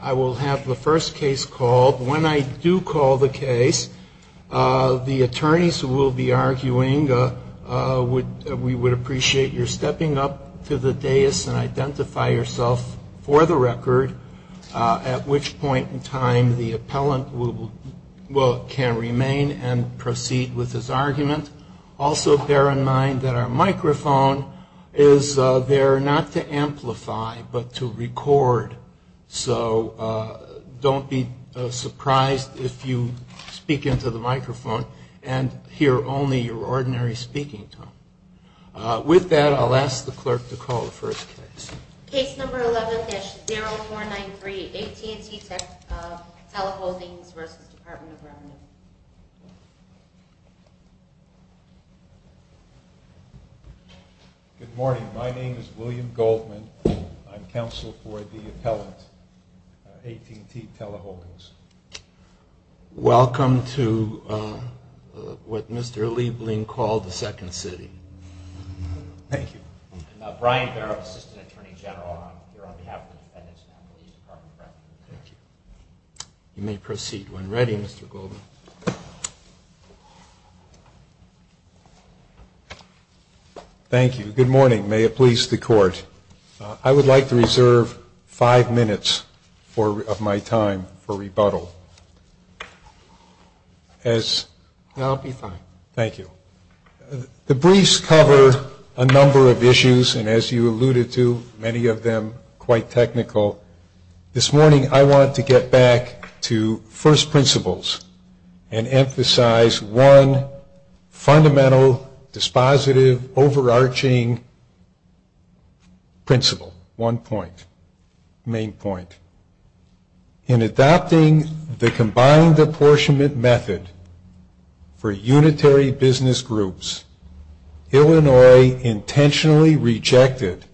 I will have the first case called. When I do call the case, the attorneys will be arguing. We would appreciate your stepping up to the dais and identify yourself for the record, at which point in time the appellant can remain and proceed with his argument. Also bear in mind that our microphone is there not to amplify but to record, so don't be surprised if you speak into the microphone and hear only your ordinary speaking tone. With that, I'll ask the clerk to call the first case. Case number 11-0493, AT&T Teleholdings v. Department of Revenue. Good morning. My name is William Goldman. I'm counsel for the appellant, AT&T Teleholdings. Welcome to what Mr. Liebling called the second city. Thank you. You may proceed when ready, Mr. Goldman. Thank you. Good morning. May it please the court. I would like to reserve five minutes of my time for rebuttal. I'll be fine. Thank you. The briefs cover a number of issues, and as you alluded to, many of them quite technical. This morning I want to get back to first principles and emphasize one fundamental, dispositive, overarching principle, one point, main point. In adopting the combined apportionment method for unitary business groups, Illinois intentionally rejected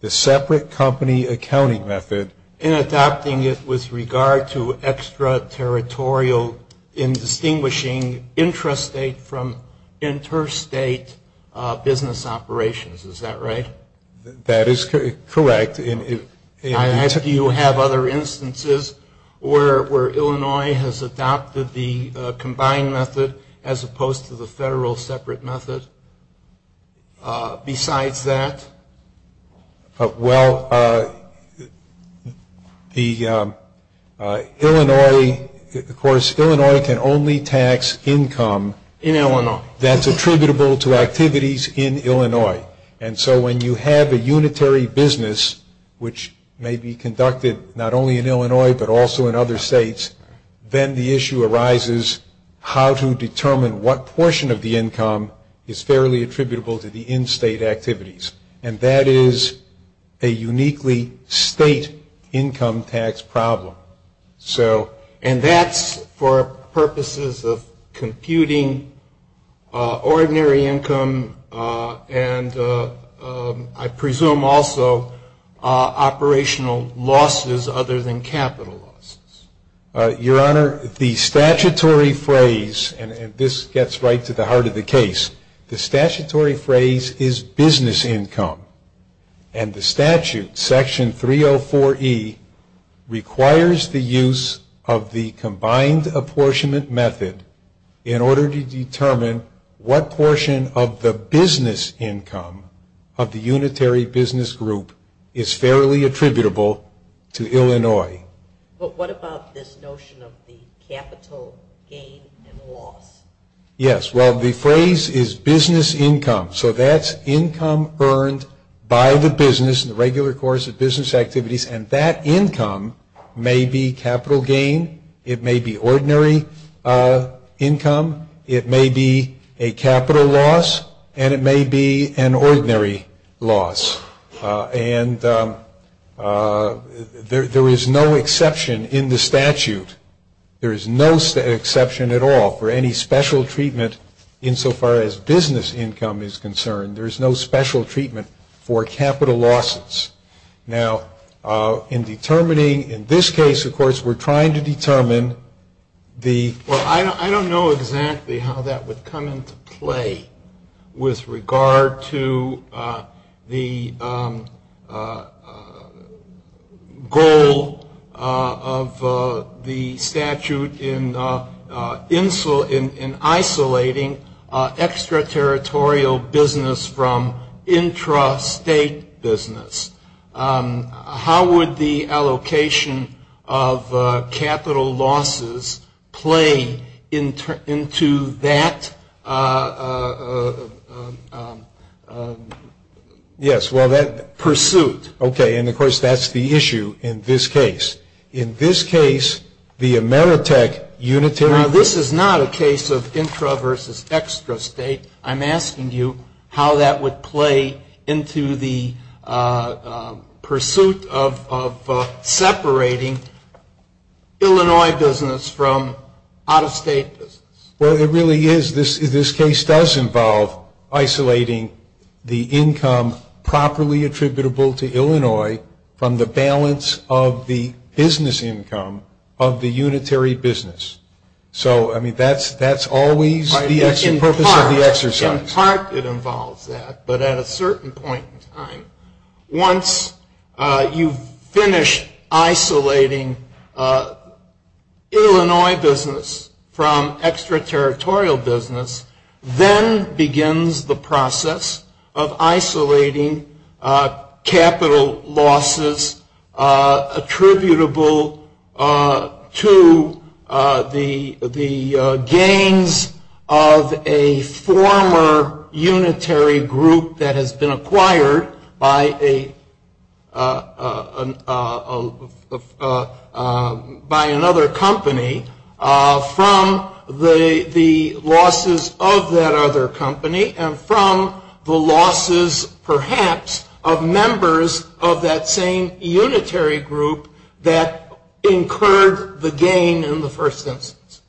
the separate company accounting method. In adopting it with regard to extraterritorial and distinguishing intrastate from interstate business operations. Is that right? That is correct. Do you have other instances where Illinois has adopted the combined method as opposed to the federal separate method besides that? Well, the Illinois, of course, Illinois can only tax income that's attributable to activities in Illinois. And so when you have a unitary business, which may be conducted not only in Illinois but also in other states, then the issue arises how to determine what portion of the income is fairly attributable to the in-state activities. And that is a uniquely state income tax problem. And that's for purposes of computing ordinary income and I presume also operational losses other than capital losses. Your Honor, the statutory phrase, and this gets right to the heart of the case, the statutory phrase is business income. And the statute, section 304E, requires the use of the combined apportionment method in order to determine what portion of the business income of the unitary business group is fairly attributable to Illinois. But what about this notion of the capital gain and loss? Yes, well, the phrase is business income. So that's income earned by the business in the regular course of business activities and that income may be capital gain, it may be ordinary income, it may be a capital loss, and it may be an ordinary loss. And there is no exception in the statute. There is no exception at all for any special treatment insofar as business income is concerned. There is no special treatment for capital losses. Now, in determining in this case, of course, we're trying to determine the --. The statute in isolating extraterritorial business from intrastate business. How would the allocation of capital losses play into that? Yes, well, that pursuit. Okay, and, of course, that's the issue in this case. In this case, the Ameritech unitary --. Now, this is not a case of intra versus extrastate. I'm asking you how that would play into the pursuit of separating Illinois business from out-of-state business. Well, it really is. This case does involve isolating the income properly attributable to Illinois from the balance of the business income of the unitary business. So, I mean, that's always the purpose of the exercise. In part, it involves that, but at a certain point in time, once you've finished isolating Illinois business from extraterritorial business, then begins the process of isolating capital losses attributable to the gains of a former unitary group that has been acquired by another company from the losses of that other company and from the losses, perhaps, of members of that same unitary group that incurred the gain in the first instance.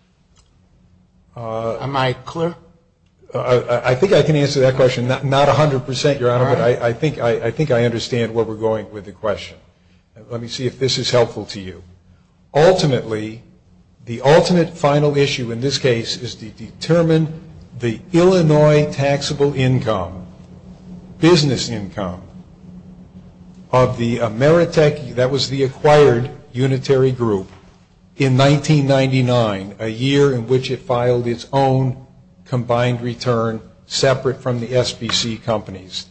Am I clear? I think I can answer that question. Not 100 percent, Your Honor, but I think I understand where we're going with the question. Let me see if this is helpful to you. Ultimately, the ultimate final issue in this case is to determine the Illinois taxable income, business income of the Ameritech, that was the acquired unitary group, in 1999, a year in which it filed its own combined return separate from the SBC companies.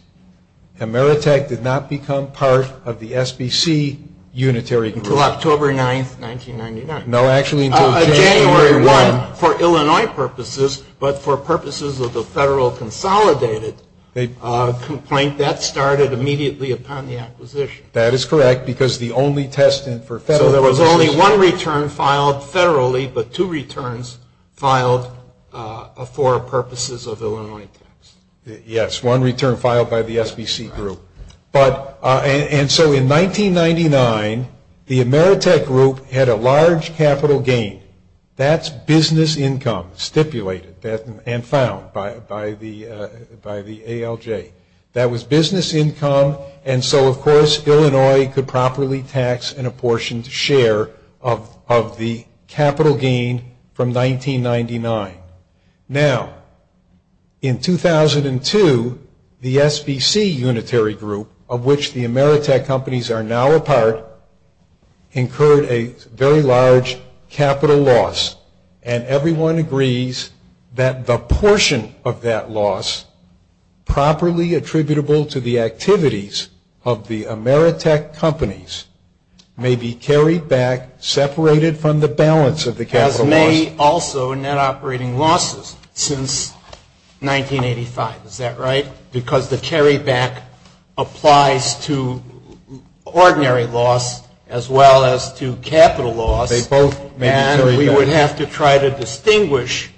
Ameritech did not become part of the SBC unitary group. Until October 9, 1999. No, actually until January 1. For Illinois purposes, but for purposes of the federal consolidated complaint, that started immediately upon the acquisition. That is correct, because the only test for federal... So there was only one return filed federally, but two returns filed for purposes of Illinois. Yes, one return filed by the SBC group. And so in 1999, the Ameritech group had a large capital gain. That's business income stipulated and found by the ALJ. That was business income, and so, of course, Illinois could properly tax an apportioned share of the capital gain from 1999. Now, in 2002, the SBC unitary group, of which the Ameritech companies are now a part, incurred a very large capital loss. And everyone agrees that the portion of that loss, properly attributable to the activities of the Ameritech companies, may be carried back, separated from the balance of the capital loss. As may also net operating losses since 1985. Is that right? Because the carryback applies to ordinary loss as well as to capital loss. And we would have to try to distinguish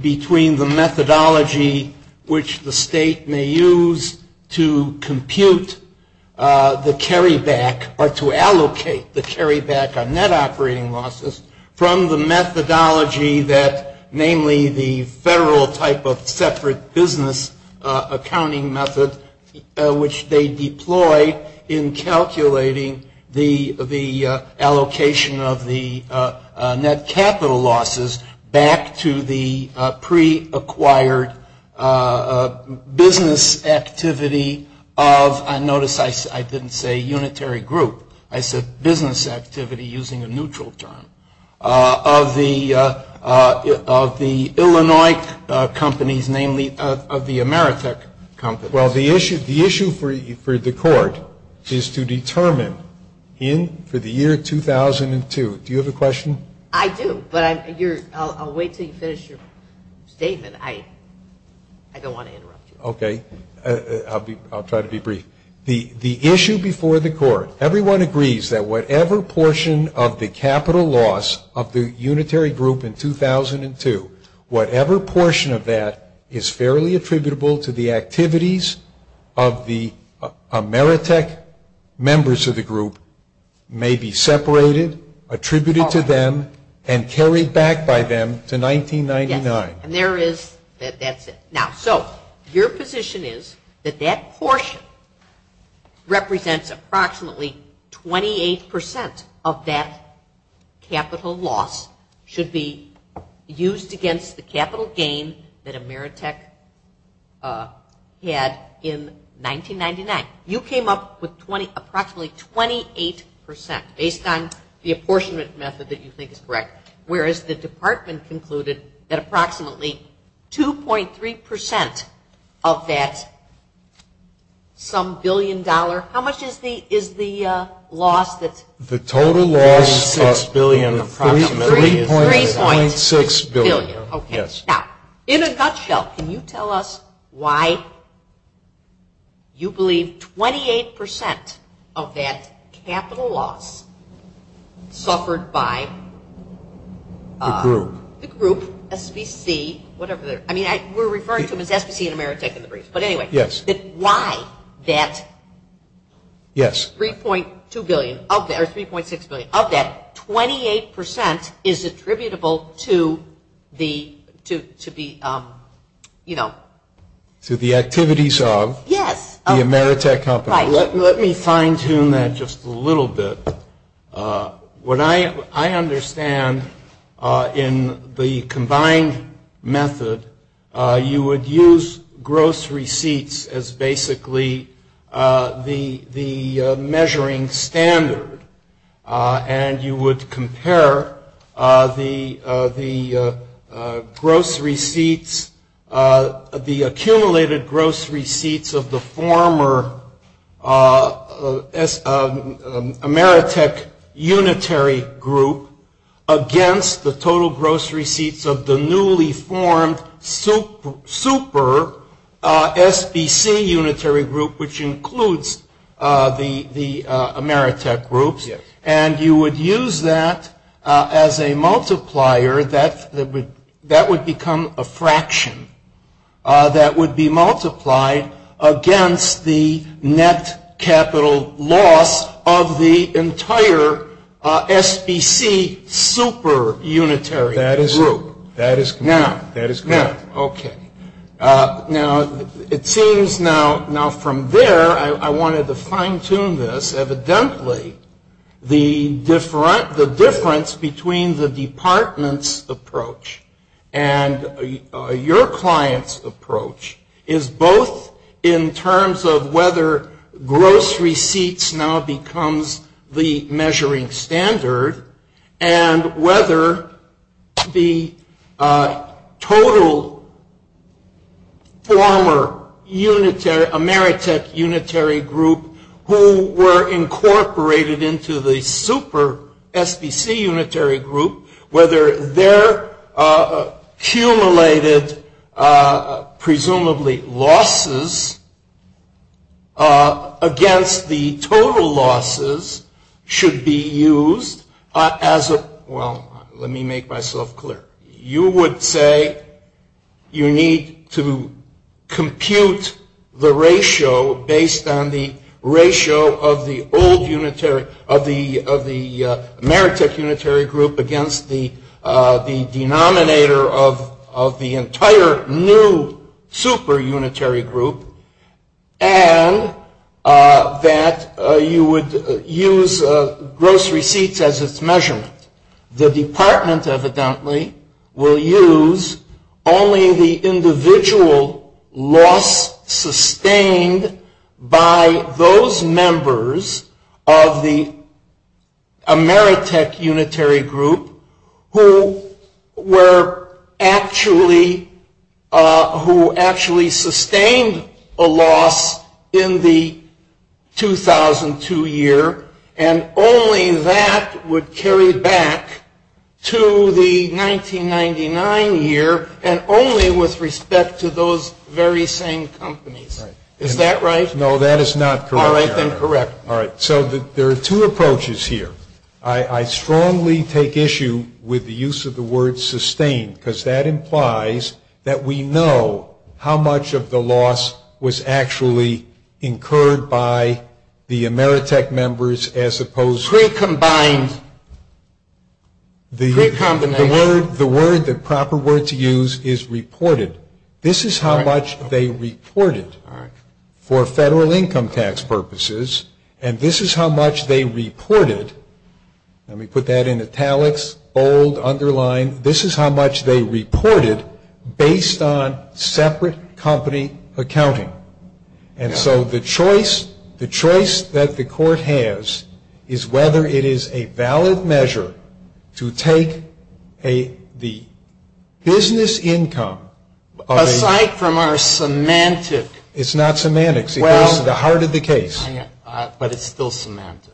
between the methodology which the state may use to compute the carryback or to allocate the carryback on net operating losses from the methodology that, namely the federal type of separate business accounting method, which they deploy in calculating the allocation of the net capital losses back to the pre-acquired business activity of, and notice I didn't say unitary group. I said business activity using a neutral term, of the Illinois companies, namely of the Ameritech companies. Well, the issue for the court is to determine in the year 2002. Do you have a question? I do, but I'll wait until you finish your statement. I don't want to interrupt you. Okay. I'll try to be brief. The issue before the court, everyone agrees that whatever portion of the capital loss of the unitary group in 2002, whatever portion of that is fairly attributable to the activities of the Ameritech members of the group, may be separated, attributed to them, and carried back by them to 1999. Yes. And there is, that's it. Now, so, your position is that that portion represents approximately 28% of that capital loss, should be used against the capital gain that Ameritech had in 1999. You came up with approximately 28% based on the apportionment method that you think is correct, whereas the department concluded that approximately 2.3% of that, some billion dollar, how much is the loss? The total loss is 3.6 billion. Okay. Now, in a nutshell, can you tell us why you believe 28% of that capital loss suffered by the group, SBC, whatever they're, I mean, we're referring to them as SBC and Ameritech in the briefs. But anyway, why that 3.2 billion? Of that, or 3.6 billion, of that, 28% is attributable to the, you know. To the activities of? Yes. The Ameritech company. Let me fine tune that just a little bit. What I understand in the combined method, you would use gross receipts as basically the measuring standard. And you would compare the gross receipts, the accumulated gross receipts of the former Ameritech unitary group against the total gross receipts of the newly formed super SBC unitary group, which includes the Ameritech group. And you would use that as a multiplier. That would become a fraction that would be multiplied against the net capital loss of the entire SBC super unitary group. That is correct. That is correct. Okay. Now, it seems now, from there, I wanted to fine tune this. Evidently, the difference between the department's approach and your client's approach is both in terms of whether gross receipts now becomes the measuring standard, and whether the total former Ameritech unitary group, who were incorporated into the super SBC unitary group, whether their accumulated, presumably, losses against the total losses should be used as a, well, let me make myself clear. You would say you need to compute the ratio based on the ratio of the old unitary, of the Ameritech unitary group against the denominator of the entire new super unitary group, and that you would use gross receipts as its measurement. The department, evidently, will use only the individual loss sustained by those members of the Ameritech unitary group, who were actually, who actually sustained a loss in the 2002 year, and only that would carry back to the 1999 year, and only with respect to those very same companies. Is that right? No, that is not correct. All right, then, correct. All right. So, there are two approaches here. I strongly take issue with the use of the word sustained, because that implies that we know how much of the loss was actually incurred by the Ameritech members, as opposed to the word, the proper word to use is reported. This is how much they reported for federal income tax purposes, and this is how much they reported, and we put that in italics, old, underlined, this is how much they reported based on separate company accounting. And so, the choice that the court has is whether it is a valid measure to take the business income. Aside from our semantics. It's not semantics. It's the heart of the case. But it's still semantics,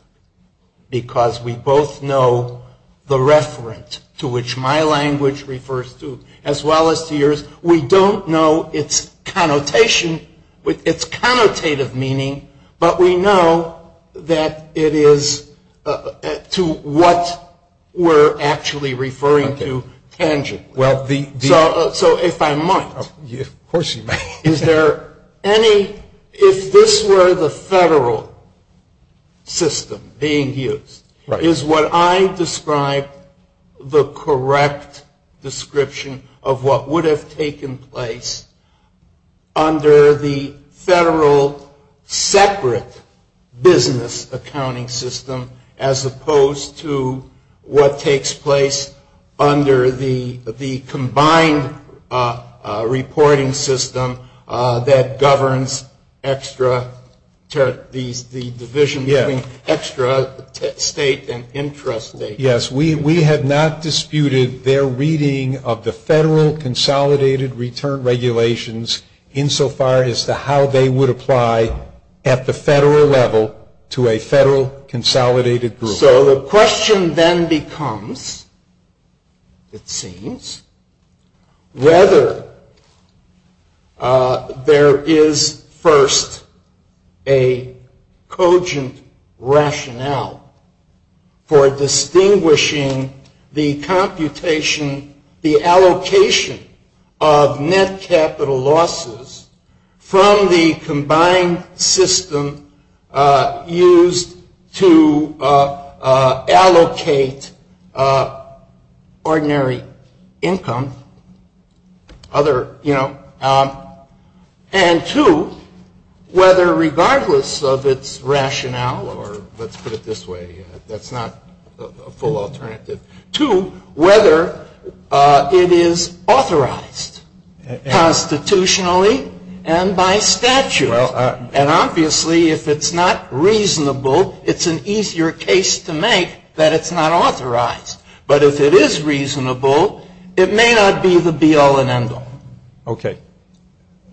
because we both know the reference to which my language refers to, as well as to yours, we don't know its connotation, its connotative meaning, but we know that it is to what we're actually referring to, tangent. So, if I might. Of course you may. Is there any, if this were the federal system being used, is what I describe the correct description of what would have taken place under the federal separate business accounting system, as opposed to what takes place under the combined reporting system that governs extra, the division between extra, state, and interest rate? Yes. We have not disputed their reading of the federal consolidated return regulations, insofar as to how they would apply at the federal level to a federal consolidated group. So, the question then becomes, it seems, whether there is first a cogent rationale for distinguishing the computation, the allocation of net capital losses from the combined system used to allocate ordinary income, other, you know, and two, whether regardless of its rationale, or let's put it this way, that's not a full alternative, to whether it is authorized constitutionally and by statute. And obviously, if it's not reasonable, it's an easier case to make that it's not authorized. But if it is reasonable, it may not be the be all and end all. Okay.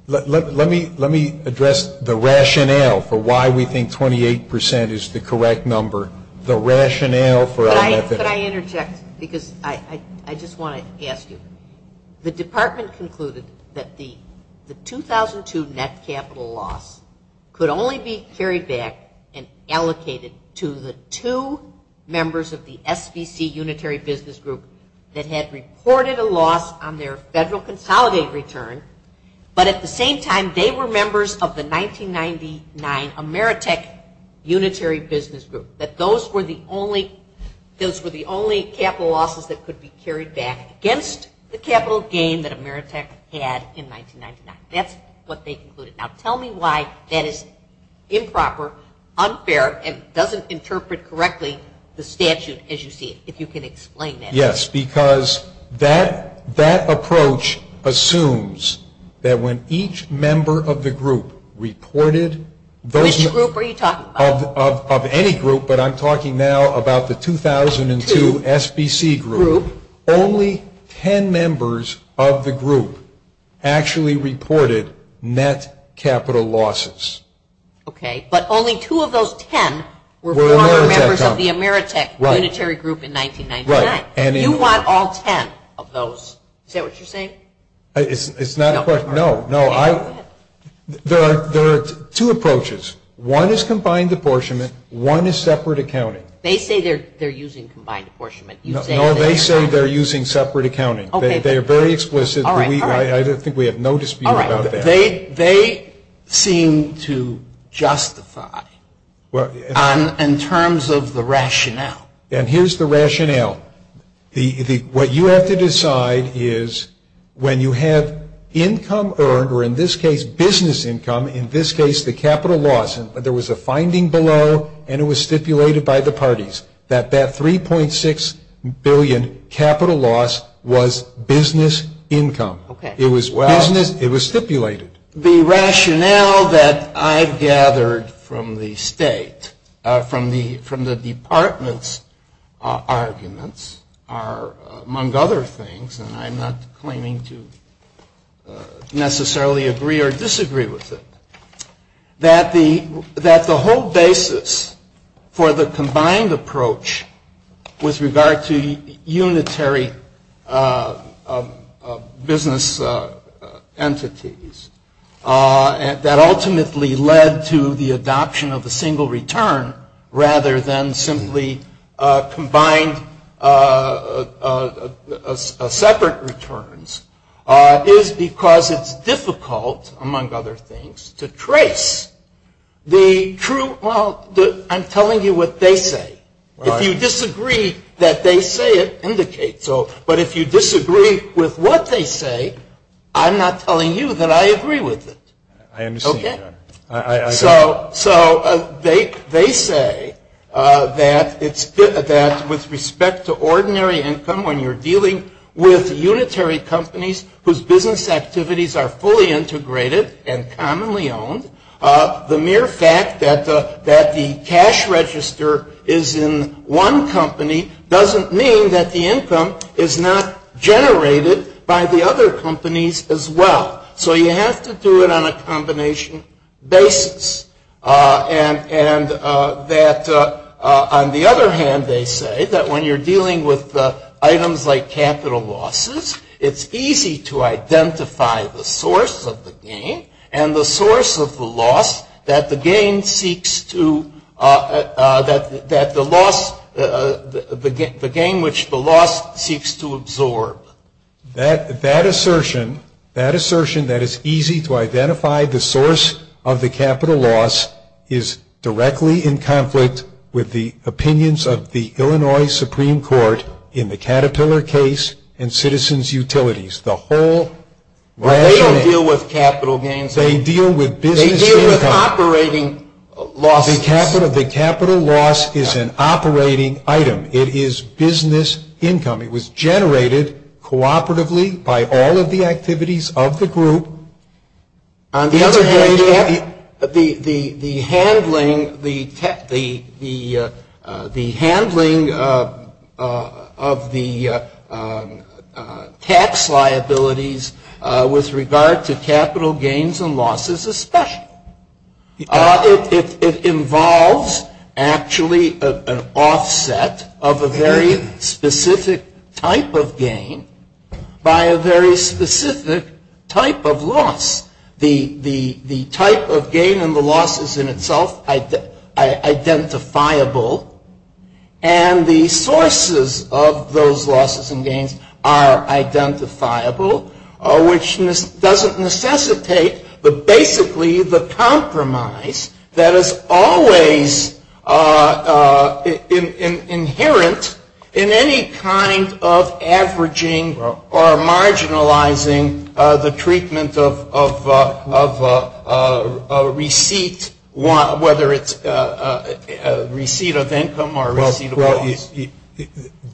Let me address the rationale for why we think 28 percent is the correct number. Could I interject? Because I just want to ask you. The department concluded that the 2002 net capital loss could only be carried back and allocated to the two members of the SDC unitary business group that had reported a loss on their federal consolidated return, but at the same time, they were members of the 1999 Ameritech unitary business group that those were the only capital losses that could be carried back against the capital gain that Ameritech had in 1999. That's what they concluded. Now, tell me why that is improper, unfair, and doesn't interpret correctly the statute as you see it, if you can explain that. Yes, because that approach assumes that when each member of the group reported, Which group are you talking about? Of any group, but I'm talking now about the 2002 SBC group. Only ten members of the group actually reported net capital losses. Okay. But only two of those ten were former members of the Ameritech unitary group in 1999. Right. You want all ten of those. Is that what you're saying? It's not a question. No, no. There are two approaches. One is combined apportionment. One is separate accounting. They say they're using combined apportionment. No, they say they're using separate accounting. They're very explicit. I think we have no dispute about that. They seem to justify in terms of the rationale. And here's the rationale. What you have to decide is when you have income earned, or in this case, business income, in this case, the capital loss. There was a finding below, and it was stipulated by the parties, that that $3.6 billion capital loss was business income. It was stipulated. The rationale that I've gathered from the state, from the department's arguments, are, among other things, and I'm not claiming to necessarily agree or disagree with it, that the whole basis for the combined approach with regard to unitary business entities, that ultimately led to the adoption of the single return rather than simply combined separate returns, is because it's difficult, among other things, to trace the true. Well, I'm telling you what they say. If you disagree that they say it, indicate so. But if you disagree with what they say, I'm not telling you that I agree with it. Okay. So they say that with respect to ordinary income, when you're dealing with unitary companies whose business activities are fully integrated and commonly owned, the mere fact that the cash register is in one company doesn't mean that the income is not generated by the other companies as well. So you have to do it on a combination basis. And that, on the other hand, they say that when you're dealing with items like capital losses, it's easy to identify the source of the gain and the source of the loss that the gain seeks to, that the loss, the gain which the loss seeks to absorb. That assertion, that assertion that it's easy to identify the source of the capital loss, is directly in conflict with the opinions of the Illinois Supreme Court in the Caterpillar case and citizens' utilities. The whole rationale. They don't deal with capital gains. They deal with business income. They deal with operating losses. The capital loss is an operating item. It is business income. It was generated cooperatively by all of the activities of the group. On the other hand, the handling of the tax liabilities with regard to capital gains and losses is special. It involves actually an offset of a very specific type of gain by a very specific type of loss. The type of gain and the loss is in itself identifiable, and the sources of those losses and gains are identifiable, which doesn't necessitate, but basically the compromise that is always inherent in any kind of averaging or marginalizing the treatment of a receipt, whether it's a receipt of income or a receipt of loss.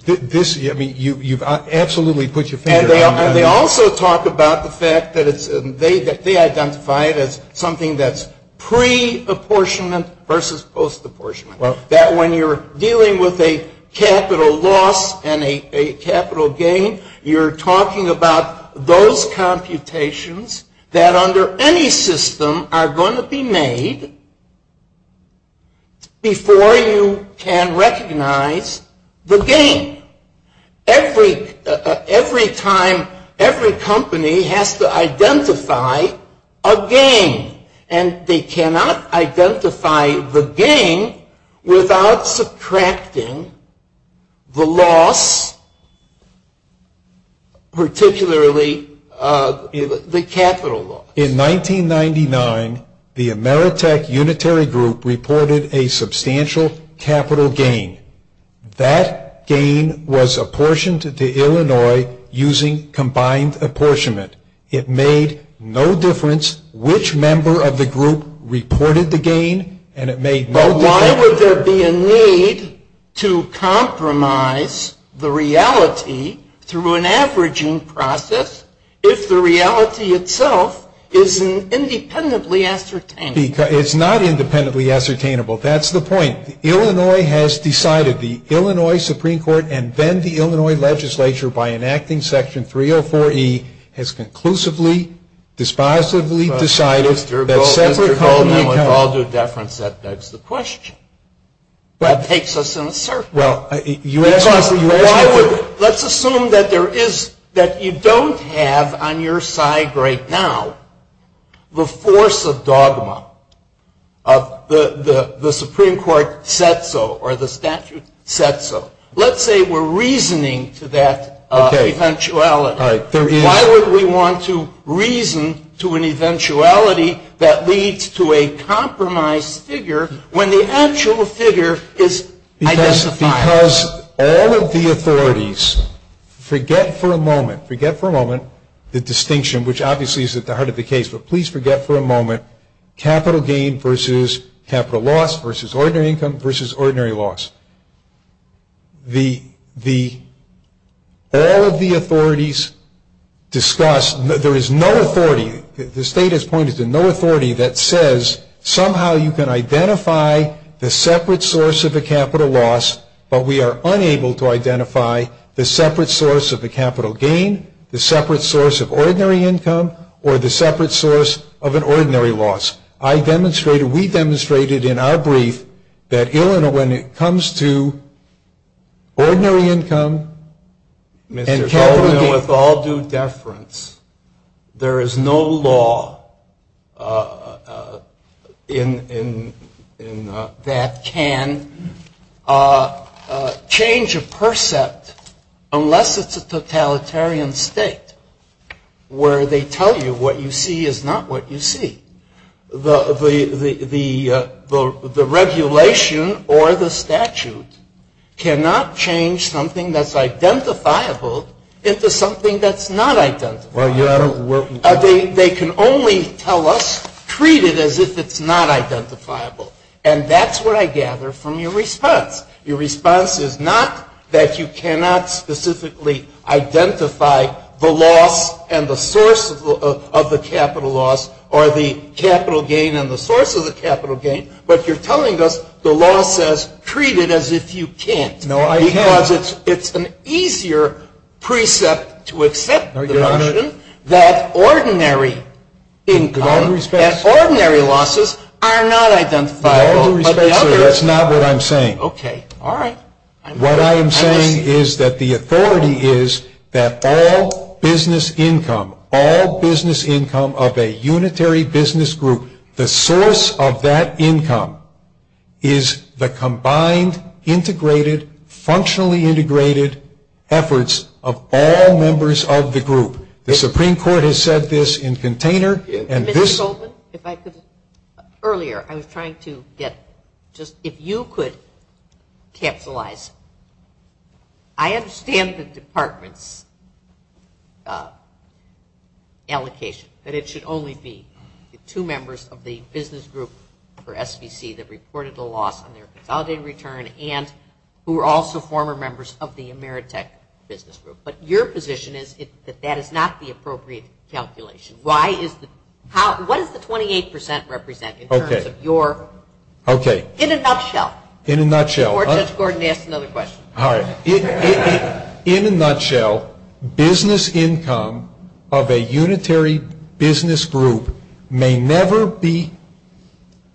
This, I mean, you've absolutely put your finger on it. And they also talk about the fact that they identify it as something that's pre-apportionment versus post-apportionment. That when you're dealing with a capital loss and a capital gain, you're talking about those computations that under any system are going to be made before you can recognize the gain. Every time, every company has to identify a gain, and they cannot identify the gain without subtracting the loss, particularly the capital loss. In 1999, the Ameritech Unitary Group reported a substantial capital gain. That gain was apportioned to Illinois using combined apportionment. It made no difference which member of the group reported the gain, and it made no difference. But why would there be a need to compromise the reality through an averaging process if the reality itself is independently ascertainable? It's not independently ascertainable. That's the point. Illinois has decided, the Illinois Supreme Court and then the Illinois legislature, by enacting Section 304E, has conclusively, dispositively decided that separate companies have to. I'll do a deference. That's the question. That takes us in a circle. Let's assume that you don't have on your side right now the force of dogma. The Supreme Court said so, or the statute said so. Let's say we're reasoning to that eventuality. Why would we want to reason to an eventuality that leads to a compromised figure when the actual figure is identified? Because all of the authorities forget for a moment the distinction, which obviously is at the heart of the case, but please forget for a moment capital gain versus capital loss versus ordinary income versus ordinary loss. All of the authorities discuss. There is no authority. The state has pointed to no authority that says somehow you can identify the separate source of a capital loss, but we are unable to identify the separate source of the capital gain, the separate source of ordinary income, or the separate source of an ordinary loss. We demonstrated in our brief that when it comes to ordinary income and capital gain with all due deference, there is no law that can change a percept unless it's a totalitarian state where they tell you what you see is not what you see. The regulation or the statute cannot change something that's identifiable into something that's not identifiable. They can only tell us, treat it as if it's not identifiable, and that's what I gather from your response. Your response is not that you cannot specifically identify the loss and the source of the capital loss or the capital gain and the source of the capital gain, but you're telling us the law says treat it as if you can't. No, I have. Because it's an easier precept to accept the notion that ordinary income, that ordinary losses are not identifiable. That's not what I'm saying. What I am saying is that the authority is that all business income, all business income of a unitary business group, the source of that income is the combined, integrated, functionally integrated efforts of all members of the group. The Supreme Court has said this in container. Earlier, I was trying to get just if you could capitalize. I understand the department's allocation, but it should only be the two members of the business group for SBC that reported the loss and their compounded return and who are also former members of the Ameritech business group. But your position is that that is not the appropriate calculation. What does the 28% represent in terms of your, in a nutshell? In a nutshell. Or let's go ahead and ask another question. In a nutshell, business income of a unitary business group may never be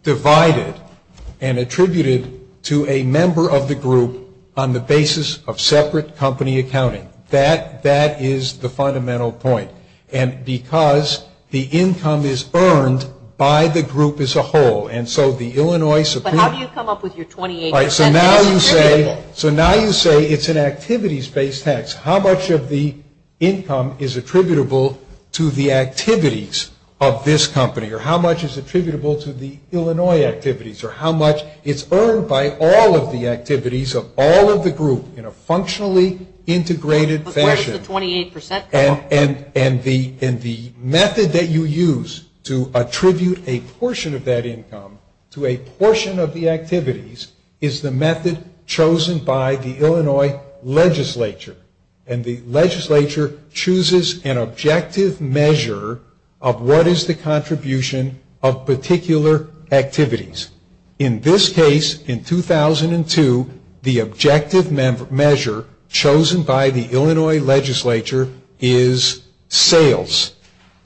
divided and attributed to a member of the group on the basis of separate company accounting. That is the fundamental point. And because the income is earned by the group as a whole. But how do you come up with your 28%? So now you say it's an activities-based tax. How much of the income is attributable to the activities of this company? Or how much is attributable to the Illinois activities? Or how much is earned by all of the activities of all of the group in a functionally integrated fashion? And the method that you use to attribute a portion of that income to a portion of the activities is the method chosen by the Illinois legislature. And the legislature chooses an objective measure of what is the contribution of particular activities. In this case, in 2002, the objective measure chosen by the Illinois legislature is sales.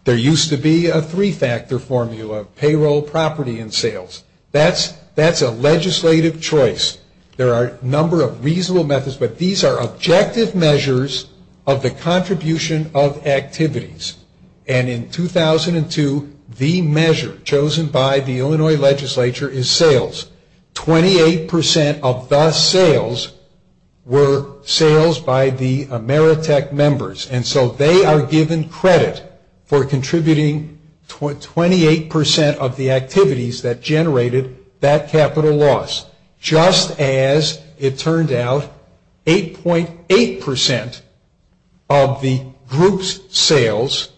There used to be a three-factor formula, payroll, property, and sales. That's a legislative choice. There are a number of reasonable methods. But these are objective measures of the contribution of activities. And in 2002, the measure chosen by the Illinois legislature is sales. Twenty-eight percent of the sales were sales by the Ameritech members. And so they are given credit for contributing 28% of the activities that generated that capital loss. Just as it turned out, 8.8% of the group's sales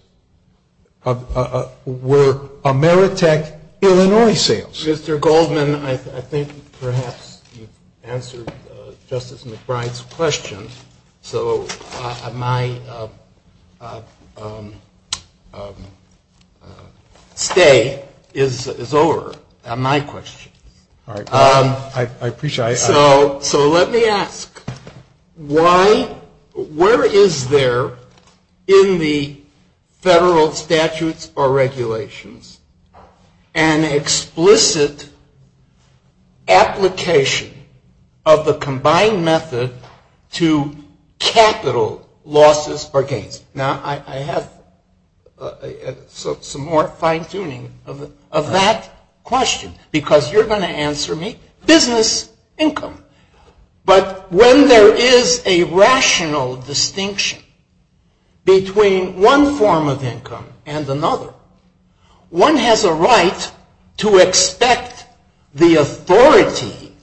were Ameritech Illinois sales. Mr. Goldman, I think perhaps you've answered Justice McBride's questions. So my stay is over on my question. I appreciate it. So let me ask, where is there in the federal statutes or regulations an explicit application of the combined method to capital losses or gains? Now I have some more fine-tuning of that question, because you're going to answer me, business income. But when there is a rational distinction between one form of income and another, one has a right to expect the authority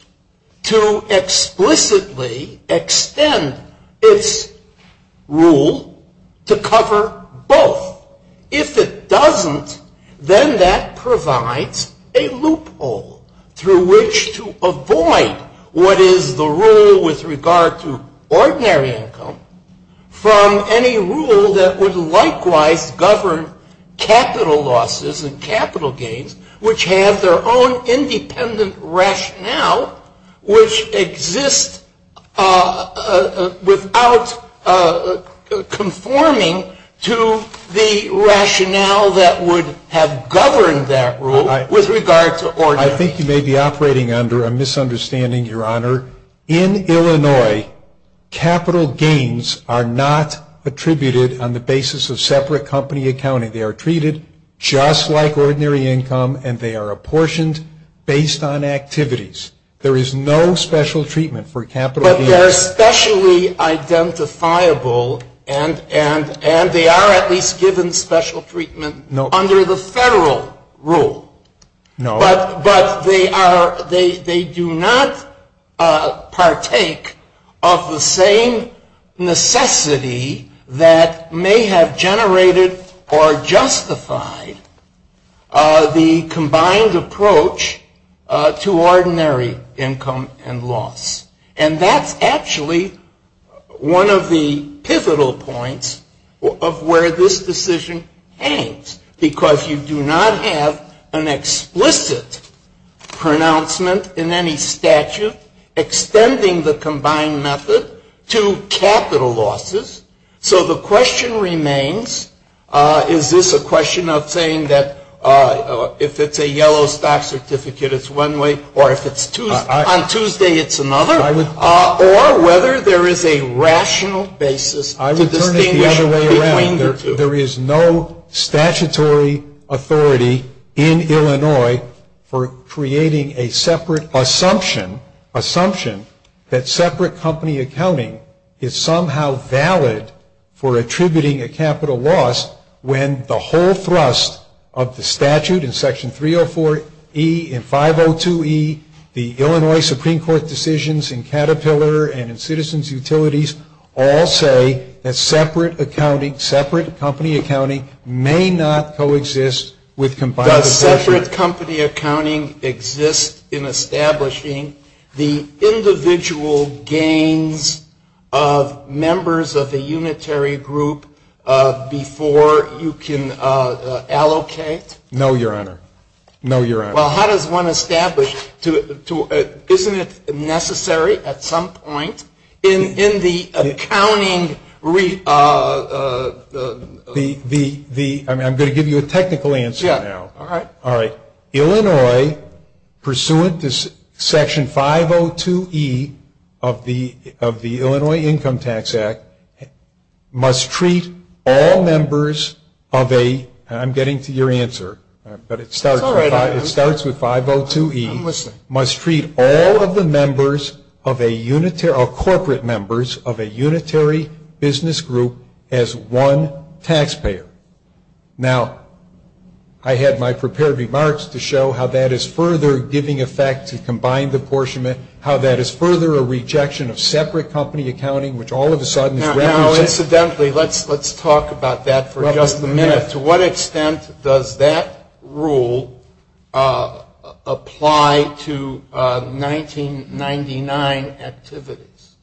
to explicitly extend its rule to cover both. If it doesn't, then that provides a loophole through which to avoid what is the rule with regard to ordinary income from any rule that would likewise govern capital losses and capital gains, which have their own independent rationale, which exists without conforming to the rationale that would have governed that rule with regard to ordinary income. I think you may be operating under a misunderstanding, Your Honor. In Illinois, capital gains are not attributed on the basis of separate company accounting. They are treated just like ordinary income, and they are apportioned based on activities. There is no special treatment for capital gains. But they're specially identifiable, and they are at least given special treatment under the federal rule. But they do not partake of the same necessity that may have generated or justified the combined approach to ordinary income and loss. And that's actually one of the pivotal points of where this decision hangs, because you do not have an explicit pronouncement in any statute extending the combined method to capital losses. So the question remains, is this a question of saying that if it's a yellow stock certificate, it's one way, or if it's on Tuesday, it's another, or whether there is a rational basis to distinguish between the two. So there is no statutory authority in Illinois for creating a separate assumption, assumption that separate company accounting is somehow valid for attributing a capital loss when the whole thrust of the statute in Section 304E and 502E, the Illinois Supreme Court decisions in Caterpillar and in Citizens Utilities, all say that separate company accounting may not coexist with combined accounting. Does separate company accounting exist in establishing the individual gains of members of the unitary group before you can allocate? No, Your Honor. No, Your Honor. Well, how does one establish, isn't it necessary at some point in the accounting? I'm going to give you a technical answer now. All right. Illinois, pursuant to Section 502E of the Illinois Income Tax Act, must treat all members of a, and I'm getting to your answer, but it starts with 502E, must treat all of the members of a corporate members of a unitary business group as one taxpayer. Now, I had my prepared remarks to show how that is further giving effect to combined apportionment, how that is further a rejection of separate company accounting, which all of a sudden. Now, incidentally, let's talk about that for just a minute. To what extent does that rule apply to 1999 activities?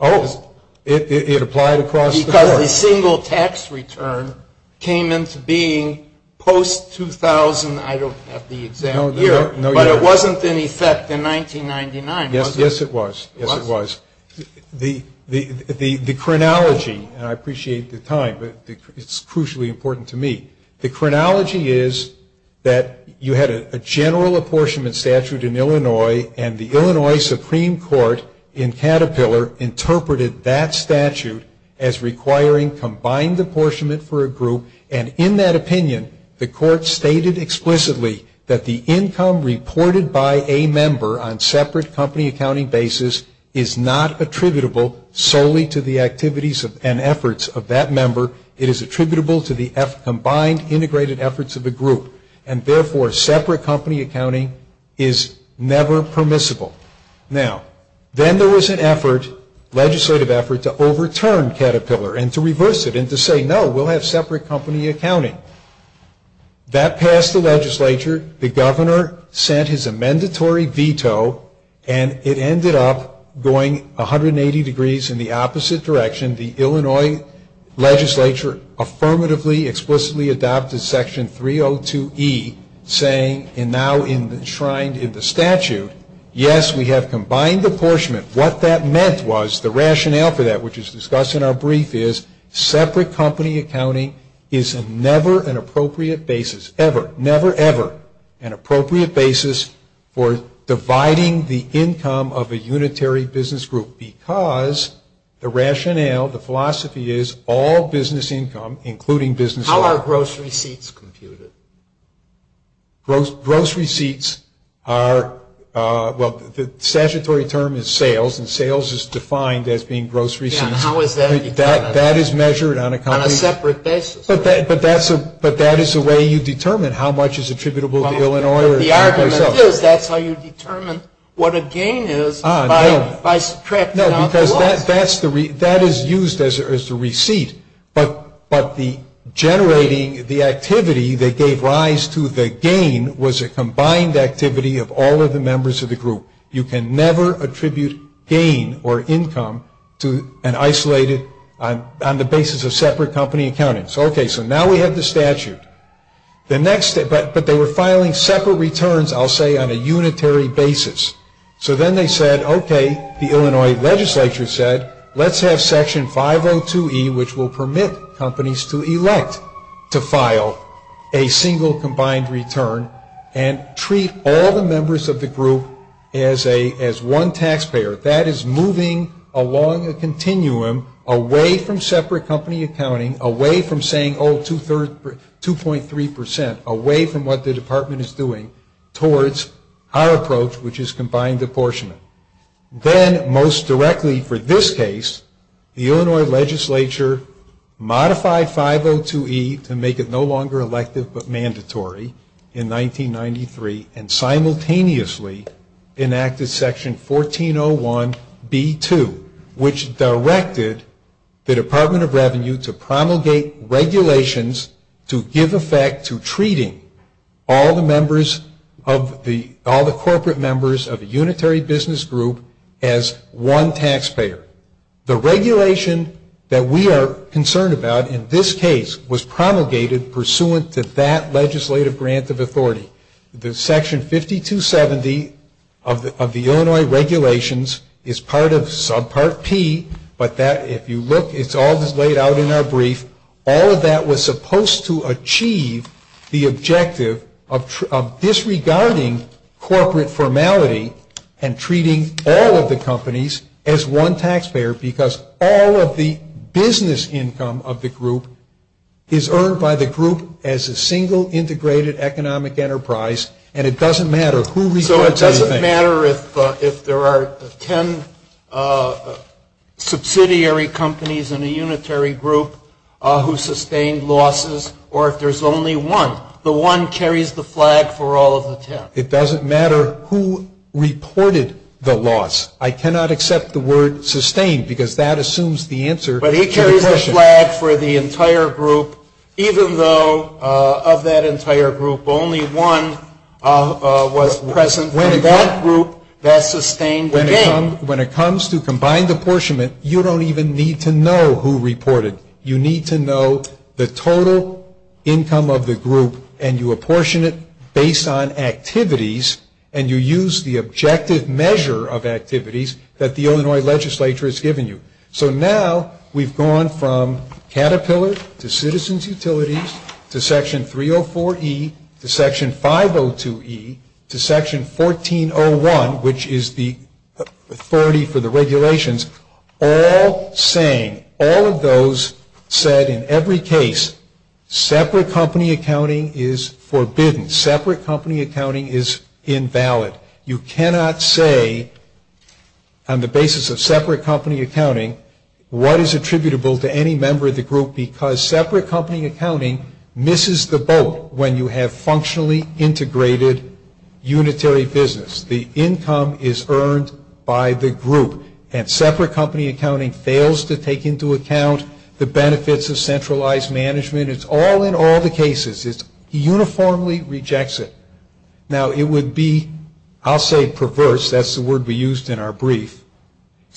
Oh, it applied across the board. Because the single tax return came into being post-2000, I don't have the exact year. No, Your Honor. But it wasn't in effect in 1999, was it? Yes, it was. Yes, it was. The chronology, and I appreciate the time, but it's crucially important to me. The chronology is that you had a general apportionment statute in Illinois, and the Illinois Supreme Court in Caterpillar interpreted that statute as requiring combined apportionment for a group, and in that opinion, the court stated explicitly that the income reported by a member on separate company accounting basis is not attributable solely to the activities and efforts of that member. It is attributable to the combined integrated efforts of the group, and therefore separate company accounting is never permissible. Now, then there was an effort, legislative effort, to overturn Caterpillar and to reverse it and to say, no, we'll have separate company accounting. That passed the legislature. The governor sent his amendatory veto, and it ended up going 180 degrees in the opposite direction. The Illinois legislature affirmatively, explicitly adopted Section 302E, saying, and now enshrined in the statute, yes, we have combined apportionment. What that meant was the rationale for that, which is discussed in our brief, is separate company accounting is never an appropriate basis, ever, never, ever, an appropriate basis for dividing the income of a unitary business group because the rationale, the philosophy is all business income, including business loans. How are grocery seats computed? Grocery seats are, well, the statutory term is sales, and sales is defined as being grocery seats. That is measured on a separate basis. But that is the way you determine how much is attributable to Illinois. The argument is that's how you determine what a gain is by subtracting out the loss. No, because that is used as a receipt, but generating the activity that gave rise to the gain was a combined activity of all of the members of the group. You can never attribute gain or income to an isolated, on the basis of separate company accounting. Okay, so now we have the statute, but they were filing separate returns, I'll say, on a unitary basis. So then they said, okay, the Illinois legislature said, let's have section 502E, which will permit companies to elect to file a single combined return and treat all the members of the group as one taxpayer. That is moving along a continuum away from separate company accounting, away from saying, oh, 2.3%, away from what the department is doing, towards our approach, which is combined apportionment. Then, most directly for this case, the Illinois legislature modified 502E to make it no longer elective but mandatory in 1993, and simultaneously enacted section 1401B2, which directed the Department of Revenue to promulgate regulations to give effect to treating all the corporate members of a unitary business group as one taxpayer. The regulation that we are concerned about in this case was promulgated pursuant to that legislative grant of authority. The section 5270 of the Illinois regulations is part of subpart P, but if you look, it's all just laid out in our brief. All of that was supposed to achieve the objective of disregarding corporate formality and treating all of the companies as one taxpayer, because all of the business income of the group is earned by the group as a single integrated economic enterprise, and it doesn't matter who represents it. It doesn't matter if there are ten subsidiary companies in the unitary group who sustained losses, or if there's only one. The one carries the flag for all of the ten. It doesn't matter who reported the loss. I cannot accept the word sustained, because that assumes the answer to the question. But it carries the flag for the entire group, even though of that entire group, only one was present in that group that sustained the gain. When it comes to combined apportionment, you don't even need to know who reported. You need to know the total income of the group, and you apportion it based on activities, and you use the objective measure of activities that the Illinois legislature has given you. So now we've gone from Caterpillar to Citizens Utilities to Section 304E to Section 502E to Section 1401, which is the authority for the regulations, all saying, all of those said in every case, separate company accounting is forbidden. Separate company accounting is invalid. You cannot say, on the basis of separate company accounting, what is attributable to any member of the group, because separate company accounting misses the boat when you have functionally integrated unitary business. The income is earned by the group. And separate company accounting fails to take into account the benefits of centralized management. It's all in all the cases. It uniformly rejects it. Now, it would be, I'll say perverse, that's the word we used in our brief.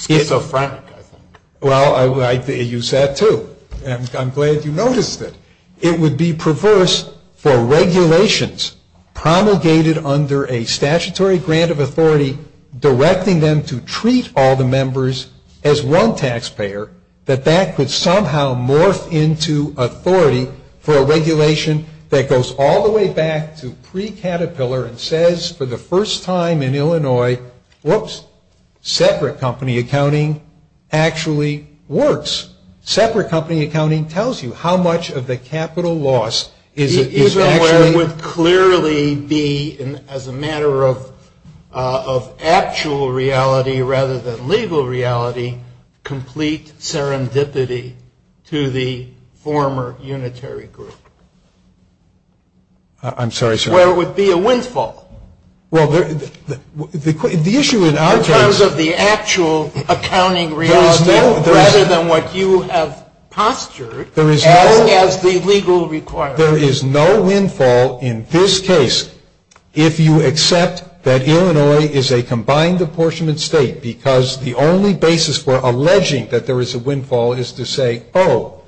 It's a fraud. Well, you said it too, and I'm glad you noticed it. It would be perverse for regulations promulgated under a statutory grant of authority directing them to treat all the members as one taxpayer, that that could somehow morph into authority for a regulation that goes all the way back to pre-Caterpillar and says for the first time in Illinois, whoops, separate company accounting actually works. Separate company accounting tells you how much of the capital loss is actually. There would clearly be, as a matter of actual reality rather than legal reality, complete serendipity to the former unitary group. I'm sorry, sir. Where it would be a windfall. Well, the issue in our terms. In terms of the actual accounting reality rather than what you have postured, as the legal requirement. There is no windfall in this case if you accept that Illinois is a combined apportionment state, because the only basis for alleging that there is a windfall is to say, oh,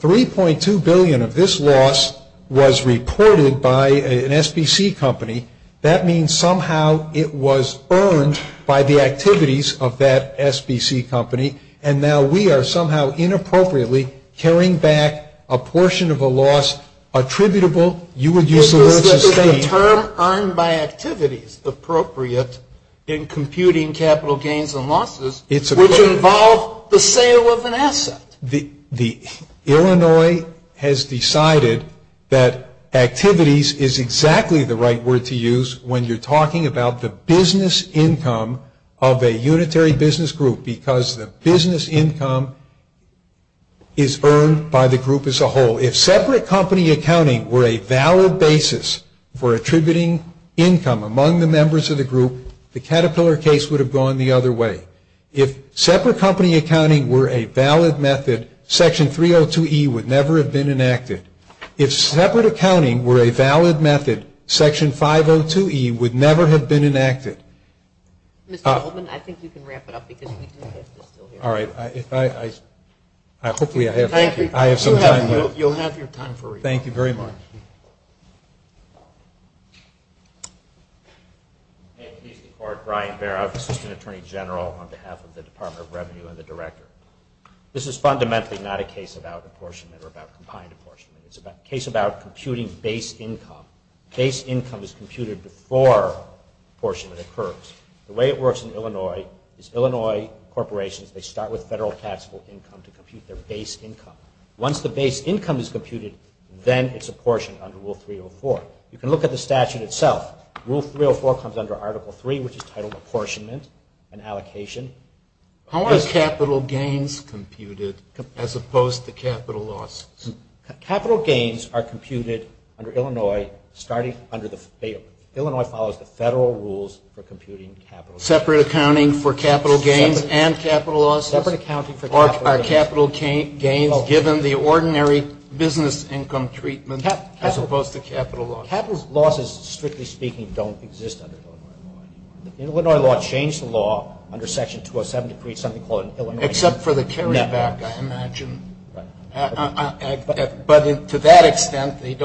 3.2 billion of this loss was reported by an SBC company. That means somehow it was earned by the activities of that SBC company, and now we are somehow inappropriately carrying back a portion of a loss attributable. You would use the word sustained. This is a term earned by activities appropriate in computing capital gains and losses, which involves the sale of an asset. Illinois has decided that activities is exactly the right word to use when you're talking about the business income of a unitary business group, because the business income is earned by the group as a whole. If separate company accounting were a valid basis for attributing income among the members of the group, the Caterpillar case would have gone the other way. If separate company accounting were a valid method, Section 302E would never have been enacted. If separate accounting were a valid method, Section 502E would never have been enacted. Thank you. Mr. Goldman, I think you can wrap it up. All right. Hopefully I have some time. You'll have your time for rebuttal. Thank you very much. Thank you. Brian Barrett, Assistant Attorney General on behalf of the Department of Revenue and the Director. This is fundamentally not a case about apportionment or about combined apportionment. It's a case about computing base income. Base income is computed before apportionment occurs. The way it works in Illinois is Illinois corporations, they start with federal taxable income to compute their base income. Once the base income is computed, then it's apportioned under Rule 304. You can look at the statute itself. Rule 304 comes under Article 3, which is titled Apportionment and Allocation. How are capital gains computed as opposed to capital loss? Capital gains are computed under Illinois, starting under the field. Illinois follows the federal rules for computing capital gains. Separate accounting for capital gains and capital loss? Separate accounting for capital gains. Are capital gains given the ordinary business income treatment as opposed to capital loss? Capital losses, strictly speaking, don't exist under capital loss. The Illinois law changed the law under Section 207 to create something called an Illinois- Except for the carry back, I imagine. But to that extent, they're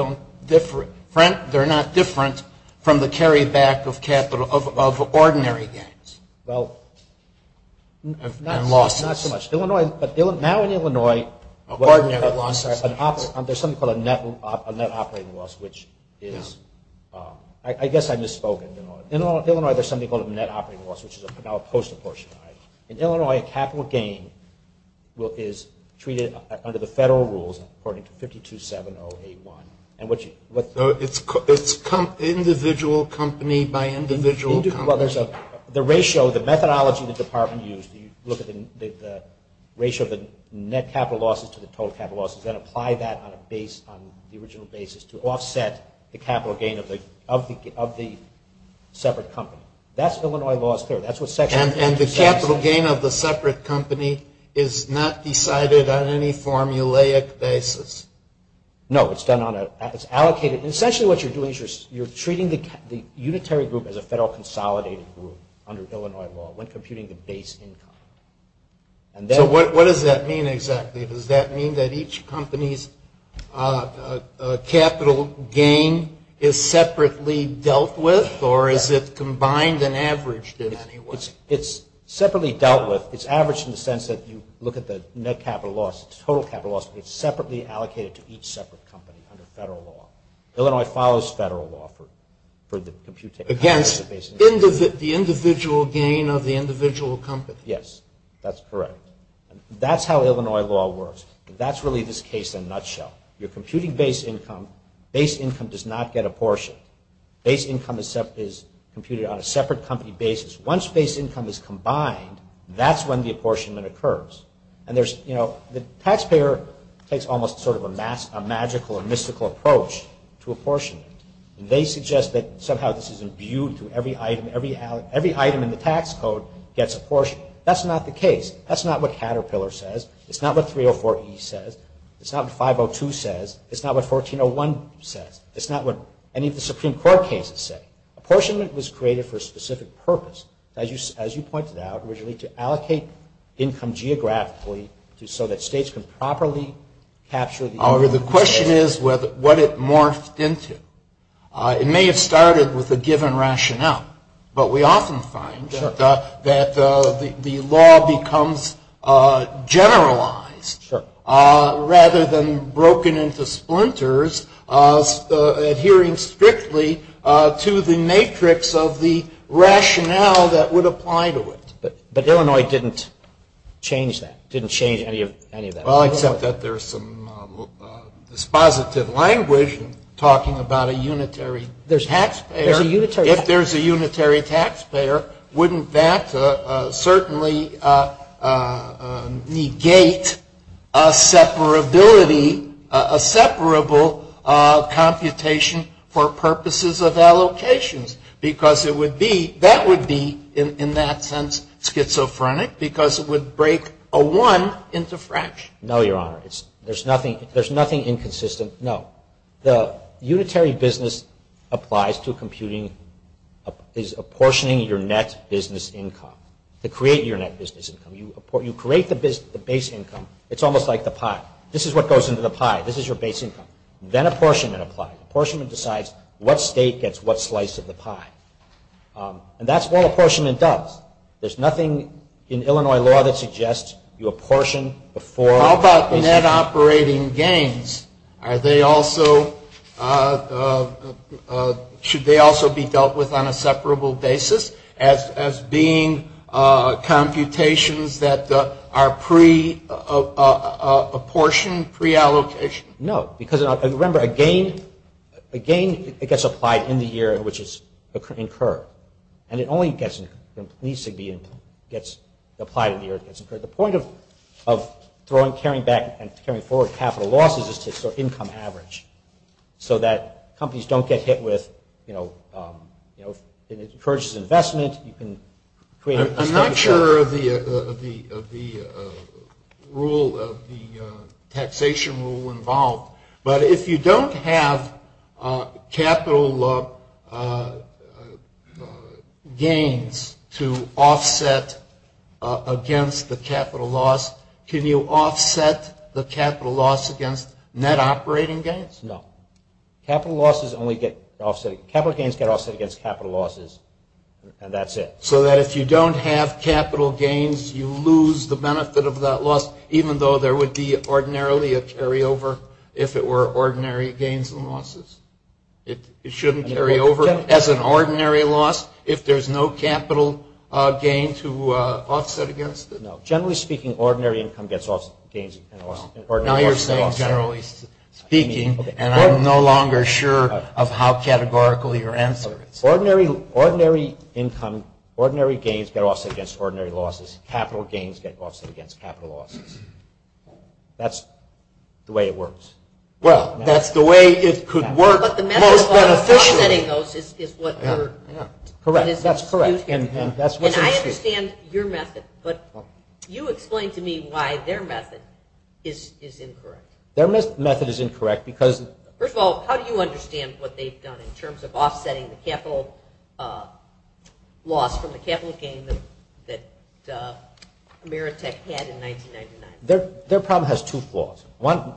not different from the carry back of ordinary gains. Well, not so much. Now in Illinois, there's something called a net operating loss, which is- I guess I misspoke in Illinois. In Illinois, there's something called a net operating loss, which is now post-apportionment. In Illinois, capital gain is treated under the federal rules according to 5270A1. It's individual company by individual company. The ratio, the methodology that the department used, you look at the ratio of the net capital losses to the total capital losses, then apply that on the original basis to offset the capital gain of the separate company. That's Illinois law's third. And the capital gain of the separate company is not decided on any formulaic basis? No, it's allocated. Essentially what you're doing is you're treating the unitary group as a federal consolidated group under Illinois law when computing the base income. What does that mean exactly? Does that mean that each company's capital gain is separately dealt with, or is it combined and averaged in any way? It's separately dealt with. It's averaged in the sense that you look at the net capital loss, total capital loss, but it's separately allocated to each separate company under federal law. Illinois follows federal law for the computation. Again, the individual gain of the individual company. Yes, that's correct. That's how Illinois law works. That's really this case in a nutshell. You're computing base income. Base income does not get apportioned. Base income is computed on a separate company basis. Once base income is combined, that's when the apportionment occurs. The taxpayer takes almost sort of a magical or mystical approach to apportionment. They suggest that somehow this is imbued to every item. Every item in the tax code gets apportioned. That's not the case. That's not what Caterpillar says. It's not what 304E says. It's not what 502 says. It's not what 1401 says. It's not what any of the Supreme Court cases say. Apportionment was created for a specific purpose, as you pointed out, originally to allocate income geographically so that states can properly capture the- The question is what it morphed into. It may have started with a given rationale, but we often find that the law becomes generalized rather than broken into splinters, adhering strictly to the matrix of the rationale that would apply to it. But Illinois didn't change that, didn't change any of that. Well, except that there's some dispositive language talking about a unitary taxpayer. If there's a unitary taxpayer, wouldn't that certainly negate a separability, a separable computation for purposes of allocations? Because that would be, in that sense, schizophrenic because it would break a one into fractions. No, Your Honor. There's nothing inconsistent. No. The unitary business applies to computing- is apportioning your net business income to create your net business income. You create the base income. It's almost like the pie. This is what goes into the pie. This is your base income. Then apportionment applies. Apportionment decides what state gets what slice of the pie. And that's what apportionment does. There's nothing in Illinois law that suggests you apportion before- Are they also- should they also be dealt with on a separable basis as being computations that are pre-apportioned, pre-allocation? No. Because, remember, a gain gets applied in the year in which it's incurred. And it only gets- at least it gets applied in the year it gets incurred. The point of throwing- carrying back and carrying forward capital losses is to sort of income average so that companies don't get hit with- it encourages investment. I'm not sure of the rule- the taxation rule involved. But if you don't have capital gains to offset against the capital loss, can you offset the capital loss against net operating gains? No. Capital gains can only offset against capital losses. And that's it. So that if you don't have capital gains, you lose the benefit of that loss, even though there would be ordinarily a carryover if it were ordinary gains and losses. It shouldn't carry over as an ordinary loss if there's no capital gain to offset against it. No. Generally speaking, ordinary income gets offset against ordinary losses. Now you're saying generally speaking, and I'm no longer sure of how categorical your answer is. Ordinary income- ordinary gains get offset against ordinary losses. Capital gains get offset against capital losses. That's the way it works. Well, that's the way it could work. But the method of offsetting those is what you're- Correct. That's correct. And I understand your method, but you explain to me why their method is incorrect. Their method is incorrect because- First of all, how do you understand what they've done in terms of offsetting the capital loss from the capital gain that Ameritech had in 1999? Their problem has two flaws.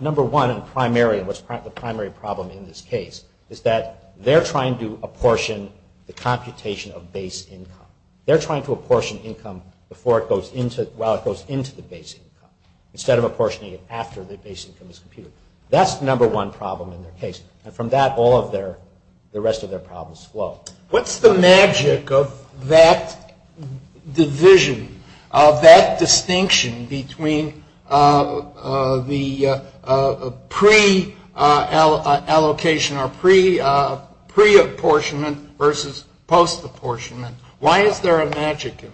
Number one, the primary problem in this case, is that they're trying to apportion the computation of base income. They're trying to apportion income while it goes into the base income instead of apportioning it after the base income is computed. That's the number one problem in their case. And from that, all of their- the rest of their problems flow. What's the magic of that division, of that distinction between the pre-allocation or pre-apportionment versus post-apportionment? Why is there a magic in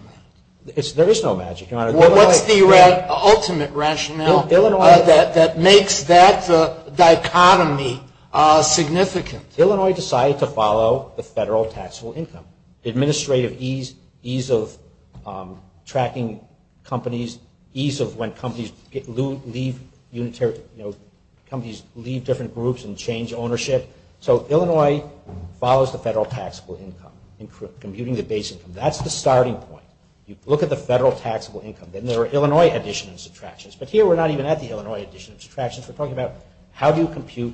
that? There is no magic. What's the ultimate rationale that makes that dichotomy significant? Illinois decided to follow the federal taxable income. Administrative ease, ease of tracking companies, ease of when companies leave different groups and change ownership. So Illinois follows the federal taxable income in computing the base income. That's the starting point. You look at the federal taxable income. Then there are Illinois addition and subtractions. But here we're not even at the Illinois addition and subtractions. We're talking about how do you compute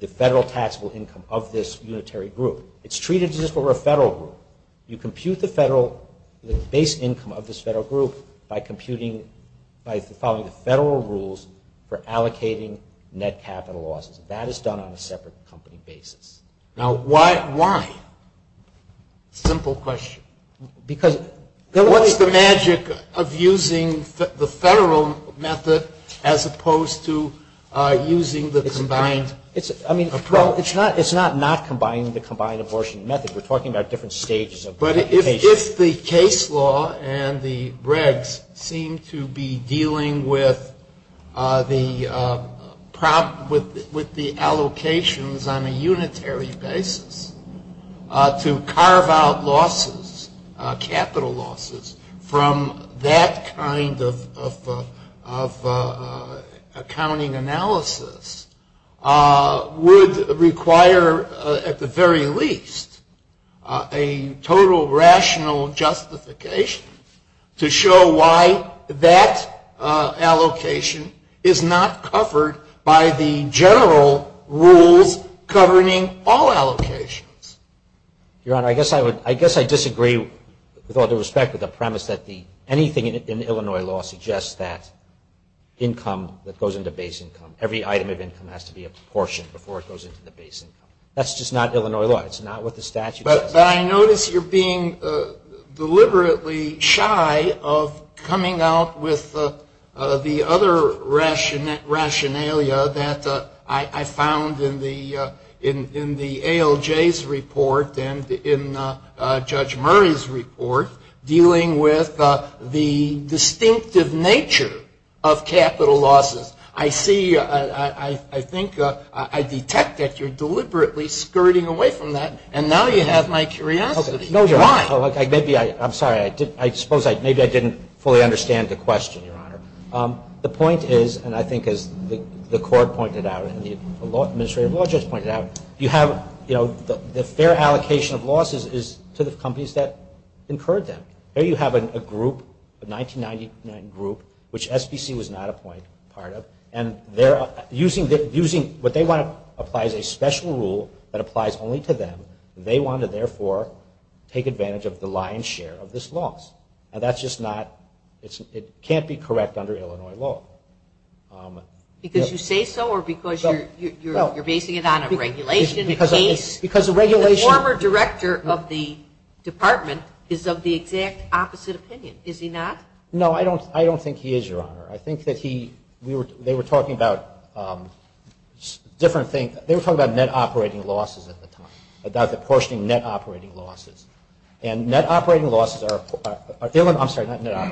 the federal taxable income of this unitary group? It's treated as if it were a federal group. You compute the base income of this federal group by following the federal rules for allocating net capital losses. That is done on a separate company basis. Now, why? Simple question. What is the magic of using the federal method as opposed to using the combined approach? It's not not combining the combined abortion method. We're talking about different stages of computation. But if the case law and the regs seem to be dealing with the allocations on a unitary basis to carve out losses, capital losses, from that kind of accounting analysis would require, at the very least, a total rational justification to show why that allocation is not covered by the general rules governing all allocations. Your Honor, I guess I disagree with all due respect to the premise that anything in Illinois law suggests that income that goes into base income, every item of income has to be apportioned before it goes into the base income. That's just not Illinois law. It's not what the statute says. But I notice you're being deliberately shy of coming out with the other rationalia that I found in the ALJ's report and in Judge Murray's report, dealing with the distinctive nature of capital losses. I see, I think, I detect that you're deliberately skirting away from that, and now you have my curiosity. No, Your Honor. I'm sorry. I suppose maybe I didn't fully understand the question, Your Honor. The point is, and I think as the court pointed out and the administrative law just pointed out, their allocation of losses is to the companies that incurred them. Here you have a group, a 1999 group, which SBC was not a part of, and what they want to apply is a special rule that applies only to them. They want to, therefore, take advantage of the lion's share of this loss. And that's just not, it can't be correct under Illinois law. Because you say so, or because you're basing it on a regulation case? The former director of the department is of the exact opposite opinion, is he not? I think that he, they were talking about different things. They were talking about net operating losses at the time, about apportioning net operating losses. And net operating losses are, I'm sorry,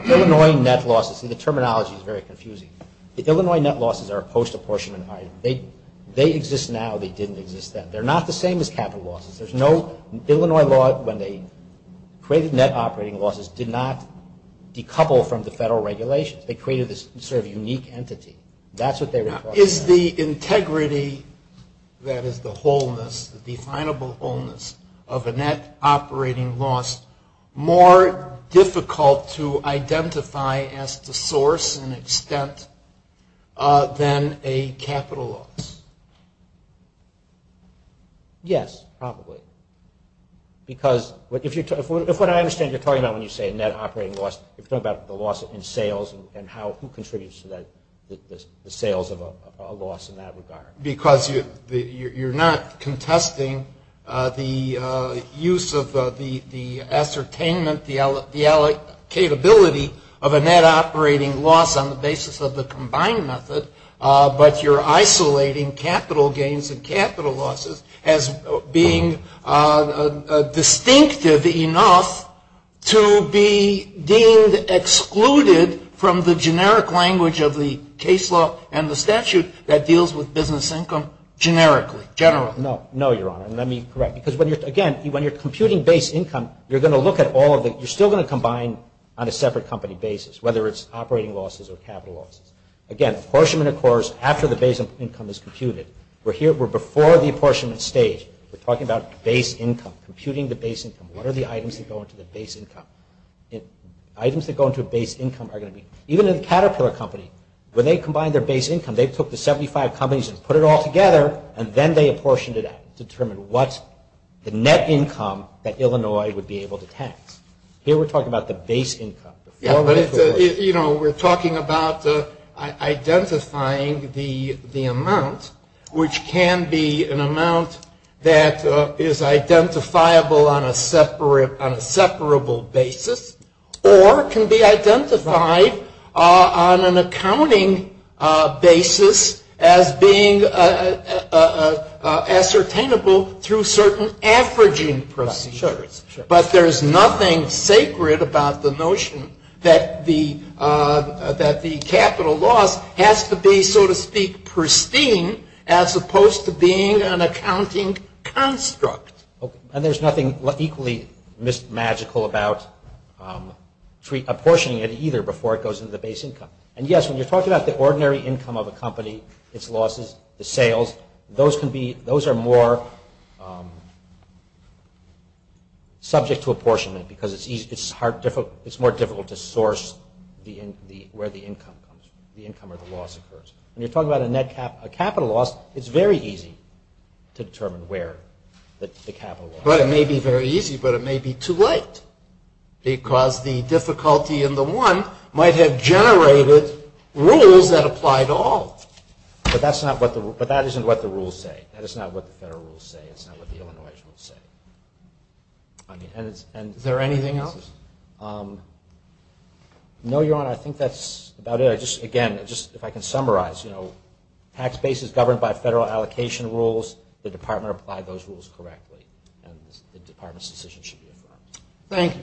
Illinois net losses. The terminology is very confusing. The Illinois net losses are post-apportionment. They exist now. They didn't exist then. They're not the same as capital losses. Illinois law, when they created net operating losses, did not decouple from the federal regulation. They created this sort of unique entity. That's what they were talking about. Is the integrity, that is the wholeness, the definable wholeness, of a net operating loss more difficult to identify as the source and extent than a capital loss? Yes, probably. Because if what I understand you're talking about when you say net operating loss, you're talking about the loss in sales and who contributes to the sales of a loss in that regard. Because you're not contesting the use of the ascertainment, the allocatability of a net operating loss on the basis of the combined method, but you're isolating capital gains and capital losses as being distinctive enough to be deemed excluded from the generic language of the case law and the statute that deals with business income generically, generally. No, no, Your Honor. And I mean correct. Because, again, when you're computing base income, you're going to look at all of it. You're still going to combine on a separate company basis, whether it's operating losses or capital losses. Again, apportionment, of course, after the base income is computed. We're before the apportionment stage. We're talking about base income, computing the base income. What are the items that go into the base income? Items that go into base income are going to be, even in a Caterpillar company, when they combine their base income, they took the 75 companies and put it all together, and then they apportioned it out to determine what's the net income that Illinois would be able to tax. Here we're talking about the base income. You know, we're talking about identifying the amount, which can be an amount that is identifiable on a separable basis or can be identified on an accounting basis as being ascertainable through certain averaging procedures. But there's nothing sacred about the notion that the capital loss has to be, so to speak, pristine as opposed to being an accounting construct. And there's nothing equally magical about apportioning it either before it goes into the base income. And yes, when you're talking about the ordinary income of a company, its losses, the sales, those are more subject to apportionment because it's more difficult to source where the income or the loss occurs. When you're talking about a net capital loss, it's very easy to determine where the capital loss is. But it may be very easy, but it may be too late because the difficulty in the one might have generated rules that applied to all. But that isn't what the rules say. That is not what the federal rules say. It's not what the Illinois rules say. Is there anything else? No, Your Honor, I think that's about it. Again, if I can summarize, you know, tax base is governed by federal allocation rules. The department applied those rules correctly. The department's decision should be approved. Thank you.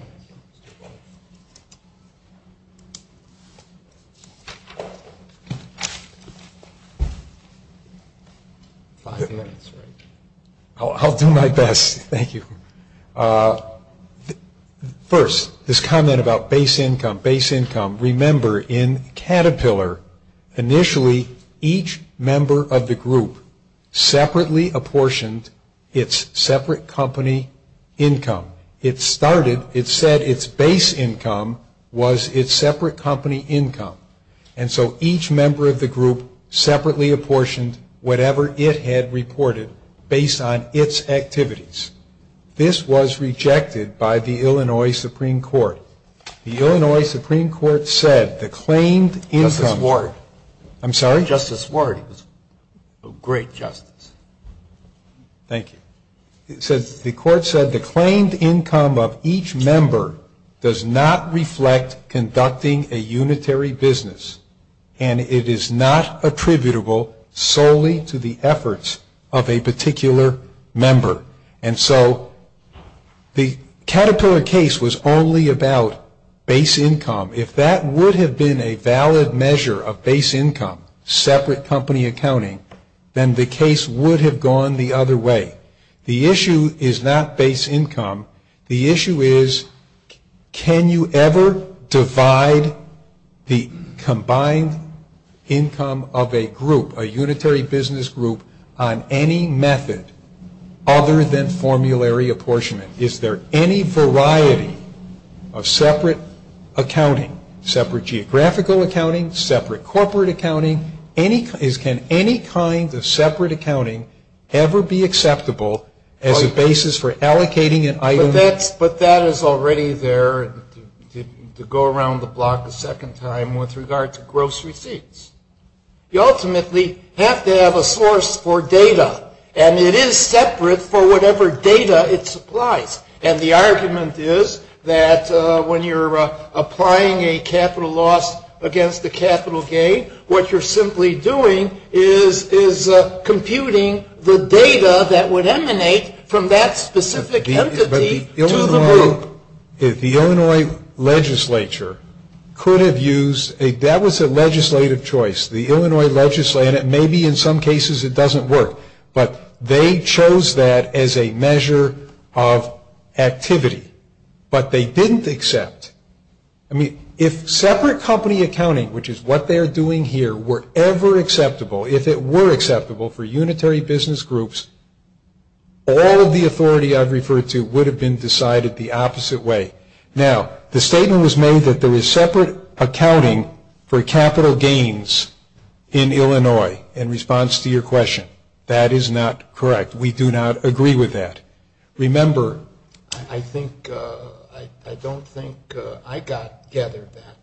I'll do my best. Thank you. First, this comment about base income, base income. Remember, in Caterpillar, initially, each member of the group separately apportioned its separate company income. It started, it said its base income was its separate company income. And so each member of the group separately apportioned whatever it had reported based on its activities. This was rejected by the Illinois Supreme Court. The Illinois Supreme Court said the claimed income. Justice Ward. I'm sorry? Justice Ward. Great justice. Thank you. The court said the claimed income of each member does not reflect conducting a unitary business, and it is not attributable solely to the efforts of a particular member. And so the Caterpillar case was only about base income. If that would have been a valid measure of base income, separate company accounting, then the case would have gone the other way. The issue is not base income. The issue is can you ever divide the combined income of a group, a unitary business group, on any method other than formulary apportionment? Is there any variety of separate accounting, separate geographical accounting, separate corporate accounting? Can any kind of separate accounting ever be acceptable as a basis for allocating an item? But that is already there to go around the block a second time with regard to gross receipts. You ultimately have to have a source for data, and it is separate for whatever data it supplies. And the argument is that when you're applying a capital loss against a capital gain, what you're simply doing is computing the data that would emanate from that specific entity to the group. The Illinois legislature could have used a legislative choice. The Illinois legislature, and maybe in some cases it doesn't work, but they chose that as a measure of activity. But they didn't accept. I mean, if separate company accounting, which is what they're doing here, were ever acceptable, if it were acceptable for unitary business groups, all of the authority I've referred to would have been decided the opposite way. Now, the statement was made that there is separate accounting for capital gains in Illinois in response to your question. That is not correct. We do not agree with that. Remember. I think, I don't think I got together that.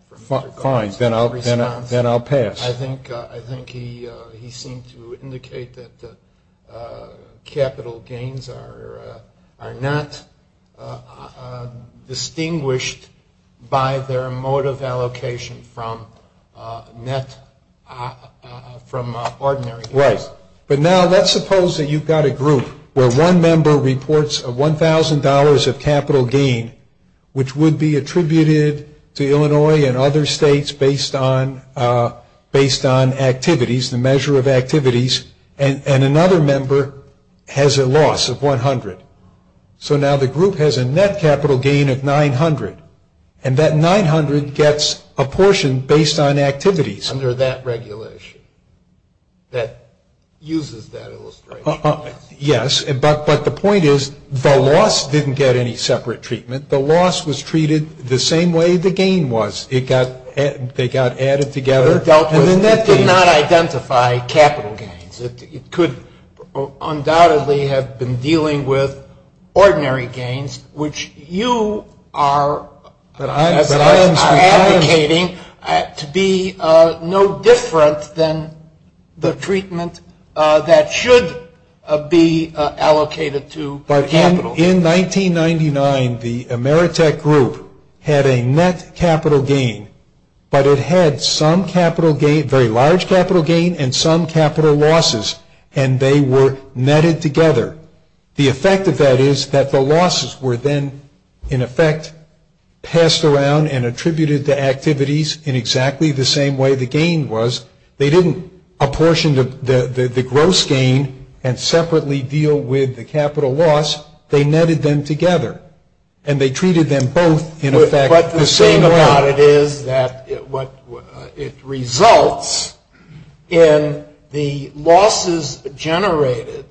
Fine, then I'll pass. I think he seemed to indicate that capital gains are not distinguished by their mode of allocation from net, from ordinary. Right. But now let's suppose that you've got a group where one member reports a $1,000 of capital gain, which would be attributed to Illinois and other states based on activities, the measure of activities, and another member has a loss of $100. So now the group has a net capital gain of $900, and that $900 gets apportioned based on activities. Under that regulation that uses that illustration. Yes, but the point is the loss didn't get any separate treatment. The loss was treated the same way the gain was. They got added together. And the net did not identify capital gains. It could undoubtedly have been dealing with ordinary gains, which you are allocating to be no different than the treatment that should be allocated to capital. But in 1999, the Ameritech group had a net capital gain, but it had some capital gain, very large capital gain and some capital losses, and they were netted together. The effect of that is that the losses were then, in effect, passed around and attributed to activities in exactly the same way the gain was. They didn't apportion the gross gain and separately deal with the capital loss. They netted them together, and they treated them both in effect the same way. My doubt is that it results in the losses generated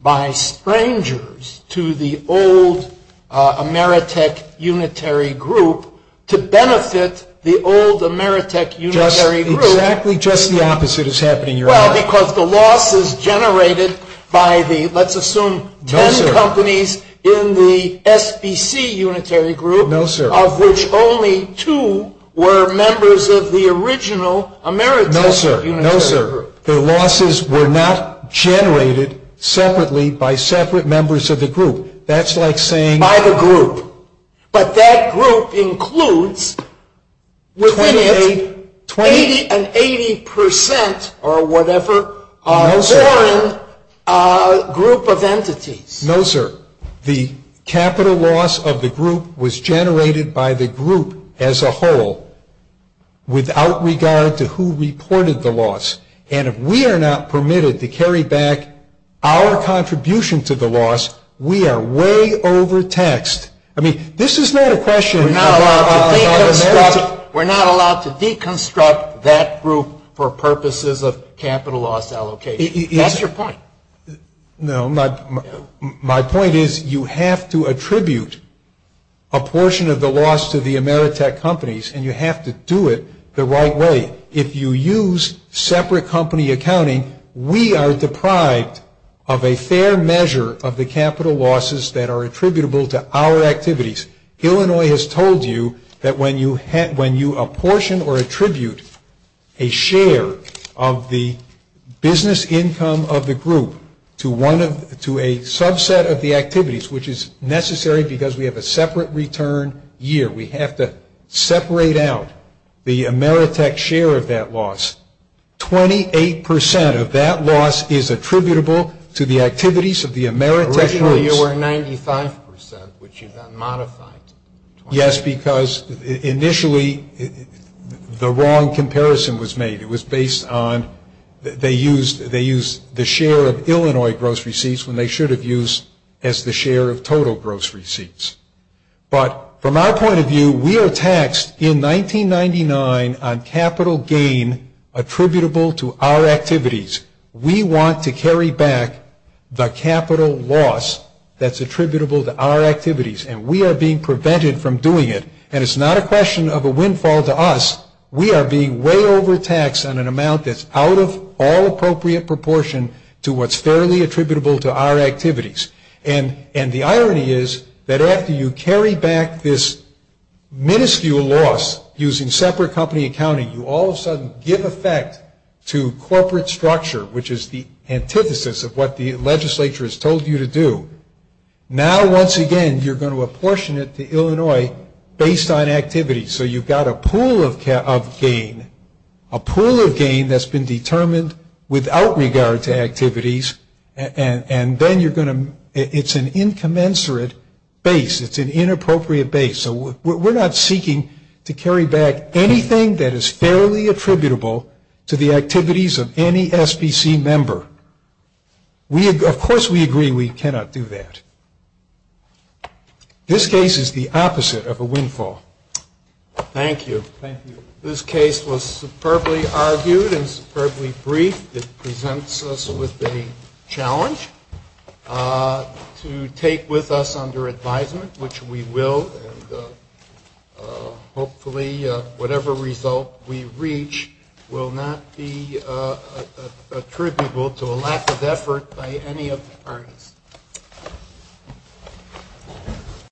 by strangers to the old Ameritech unitary group to benefit the old Ameritech unitary group. Exactly just the opposite is happening, Your Honor. Well, because the losses generated by the, let's assume, ten companies in the SBC unitary group, of which only two were members of the original Ameritech unitary group. No, sir. No, sir. The losses were not generated separately by separate members of the group. That's like saying... By the group. But that group includes 20 and 80 percent or whatever foreign group of entities. No, sir. The capital loss of the group was generated by the group as a whole without regard to who reported the loss. And if we are not permitted to carry back our contribution to the loss, we are way overtaxed. I mean, this is not a question... We're not allowed to deconstruct that group for purposes of capital loss allocation. That's your point. No, my point is you have to attribute a portion of the loss to the Ameritech companies, and you have to do it the right way. And if you use separate company accounting, we are deprived of a fair measure of the capital losses that are attributable to our activities. Illinois has told you that when you apportion or attribute a share of the business income of the group to a subset of the activities, which is necessary because we have a separate return year, we have to separate out the Ameritech share of that loss. Twenty-eight percent of that loss is attributable to the activities of the Ameritech groups. Originally you were 95 percent, which you have modified. Yes, because initially the wrong comparison was made. It was based on they used the share of Illinois gross receipts when they should have used as the share of total gross receipts. But from our point of view, we are taxed in 1999 on capital gain attributable to our activities. We want to carry back the capital loss that's attributable to our activities, and we are being prevented from doing it. And it's not a question of a windfall to us. We are being way overtaxed on an amount that's out of all appropriate proportion to what's fairly attributable to our activities. And the irony is that after you carry back this minuscule loss using separate company accounting, you all of a sudden give effect to corporate structure, which is the antithesis of what the legislature has told you to do. Now, once again, you're going to apportion it to Illinois based on activities. So you've got a pool of gain, a pool of gain that's been determined without regard to activities, and then you're going to ‑‑ it's an incommensurate base. It's an inappropriate base. So we're not seeking to carry back anything that is fairly attributable to the activities of any SBC member. Of course we agree we cannot do that. This case is the opposite of a windfall. Thank you. Thank you. This case was superbly argued and superbly brief. It presents us with a challenge to take with us under advisement, which we will, and hopefully whatever result we reach will not be attributable to a lack of effort by any of the parties.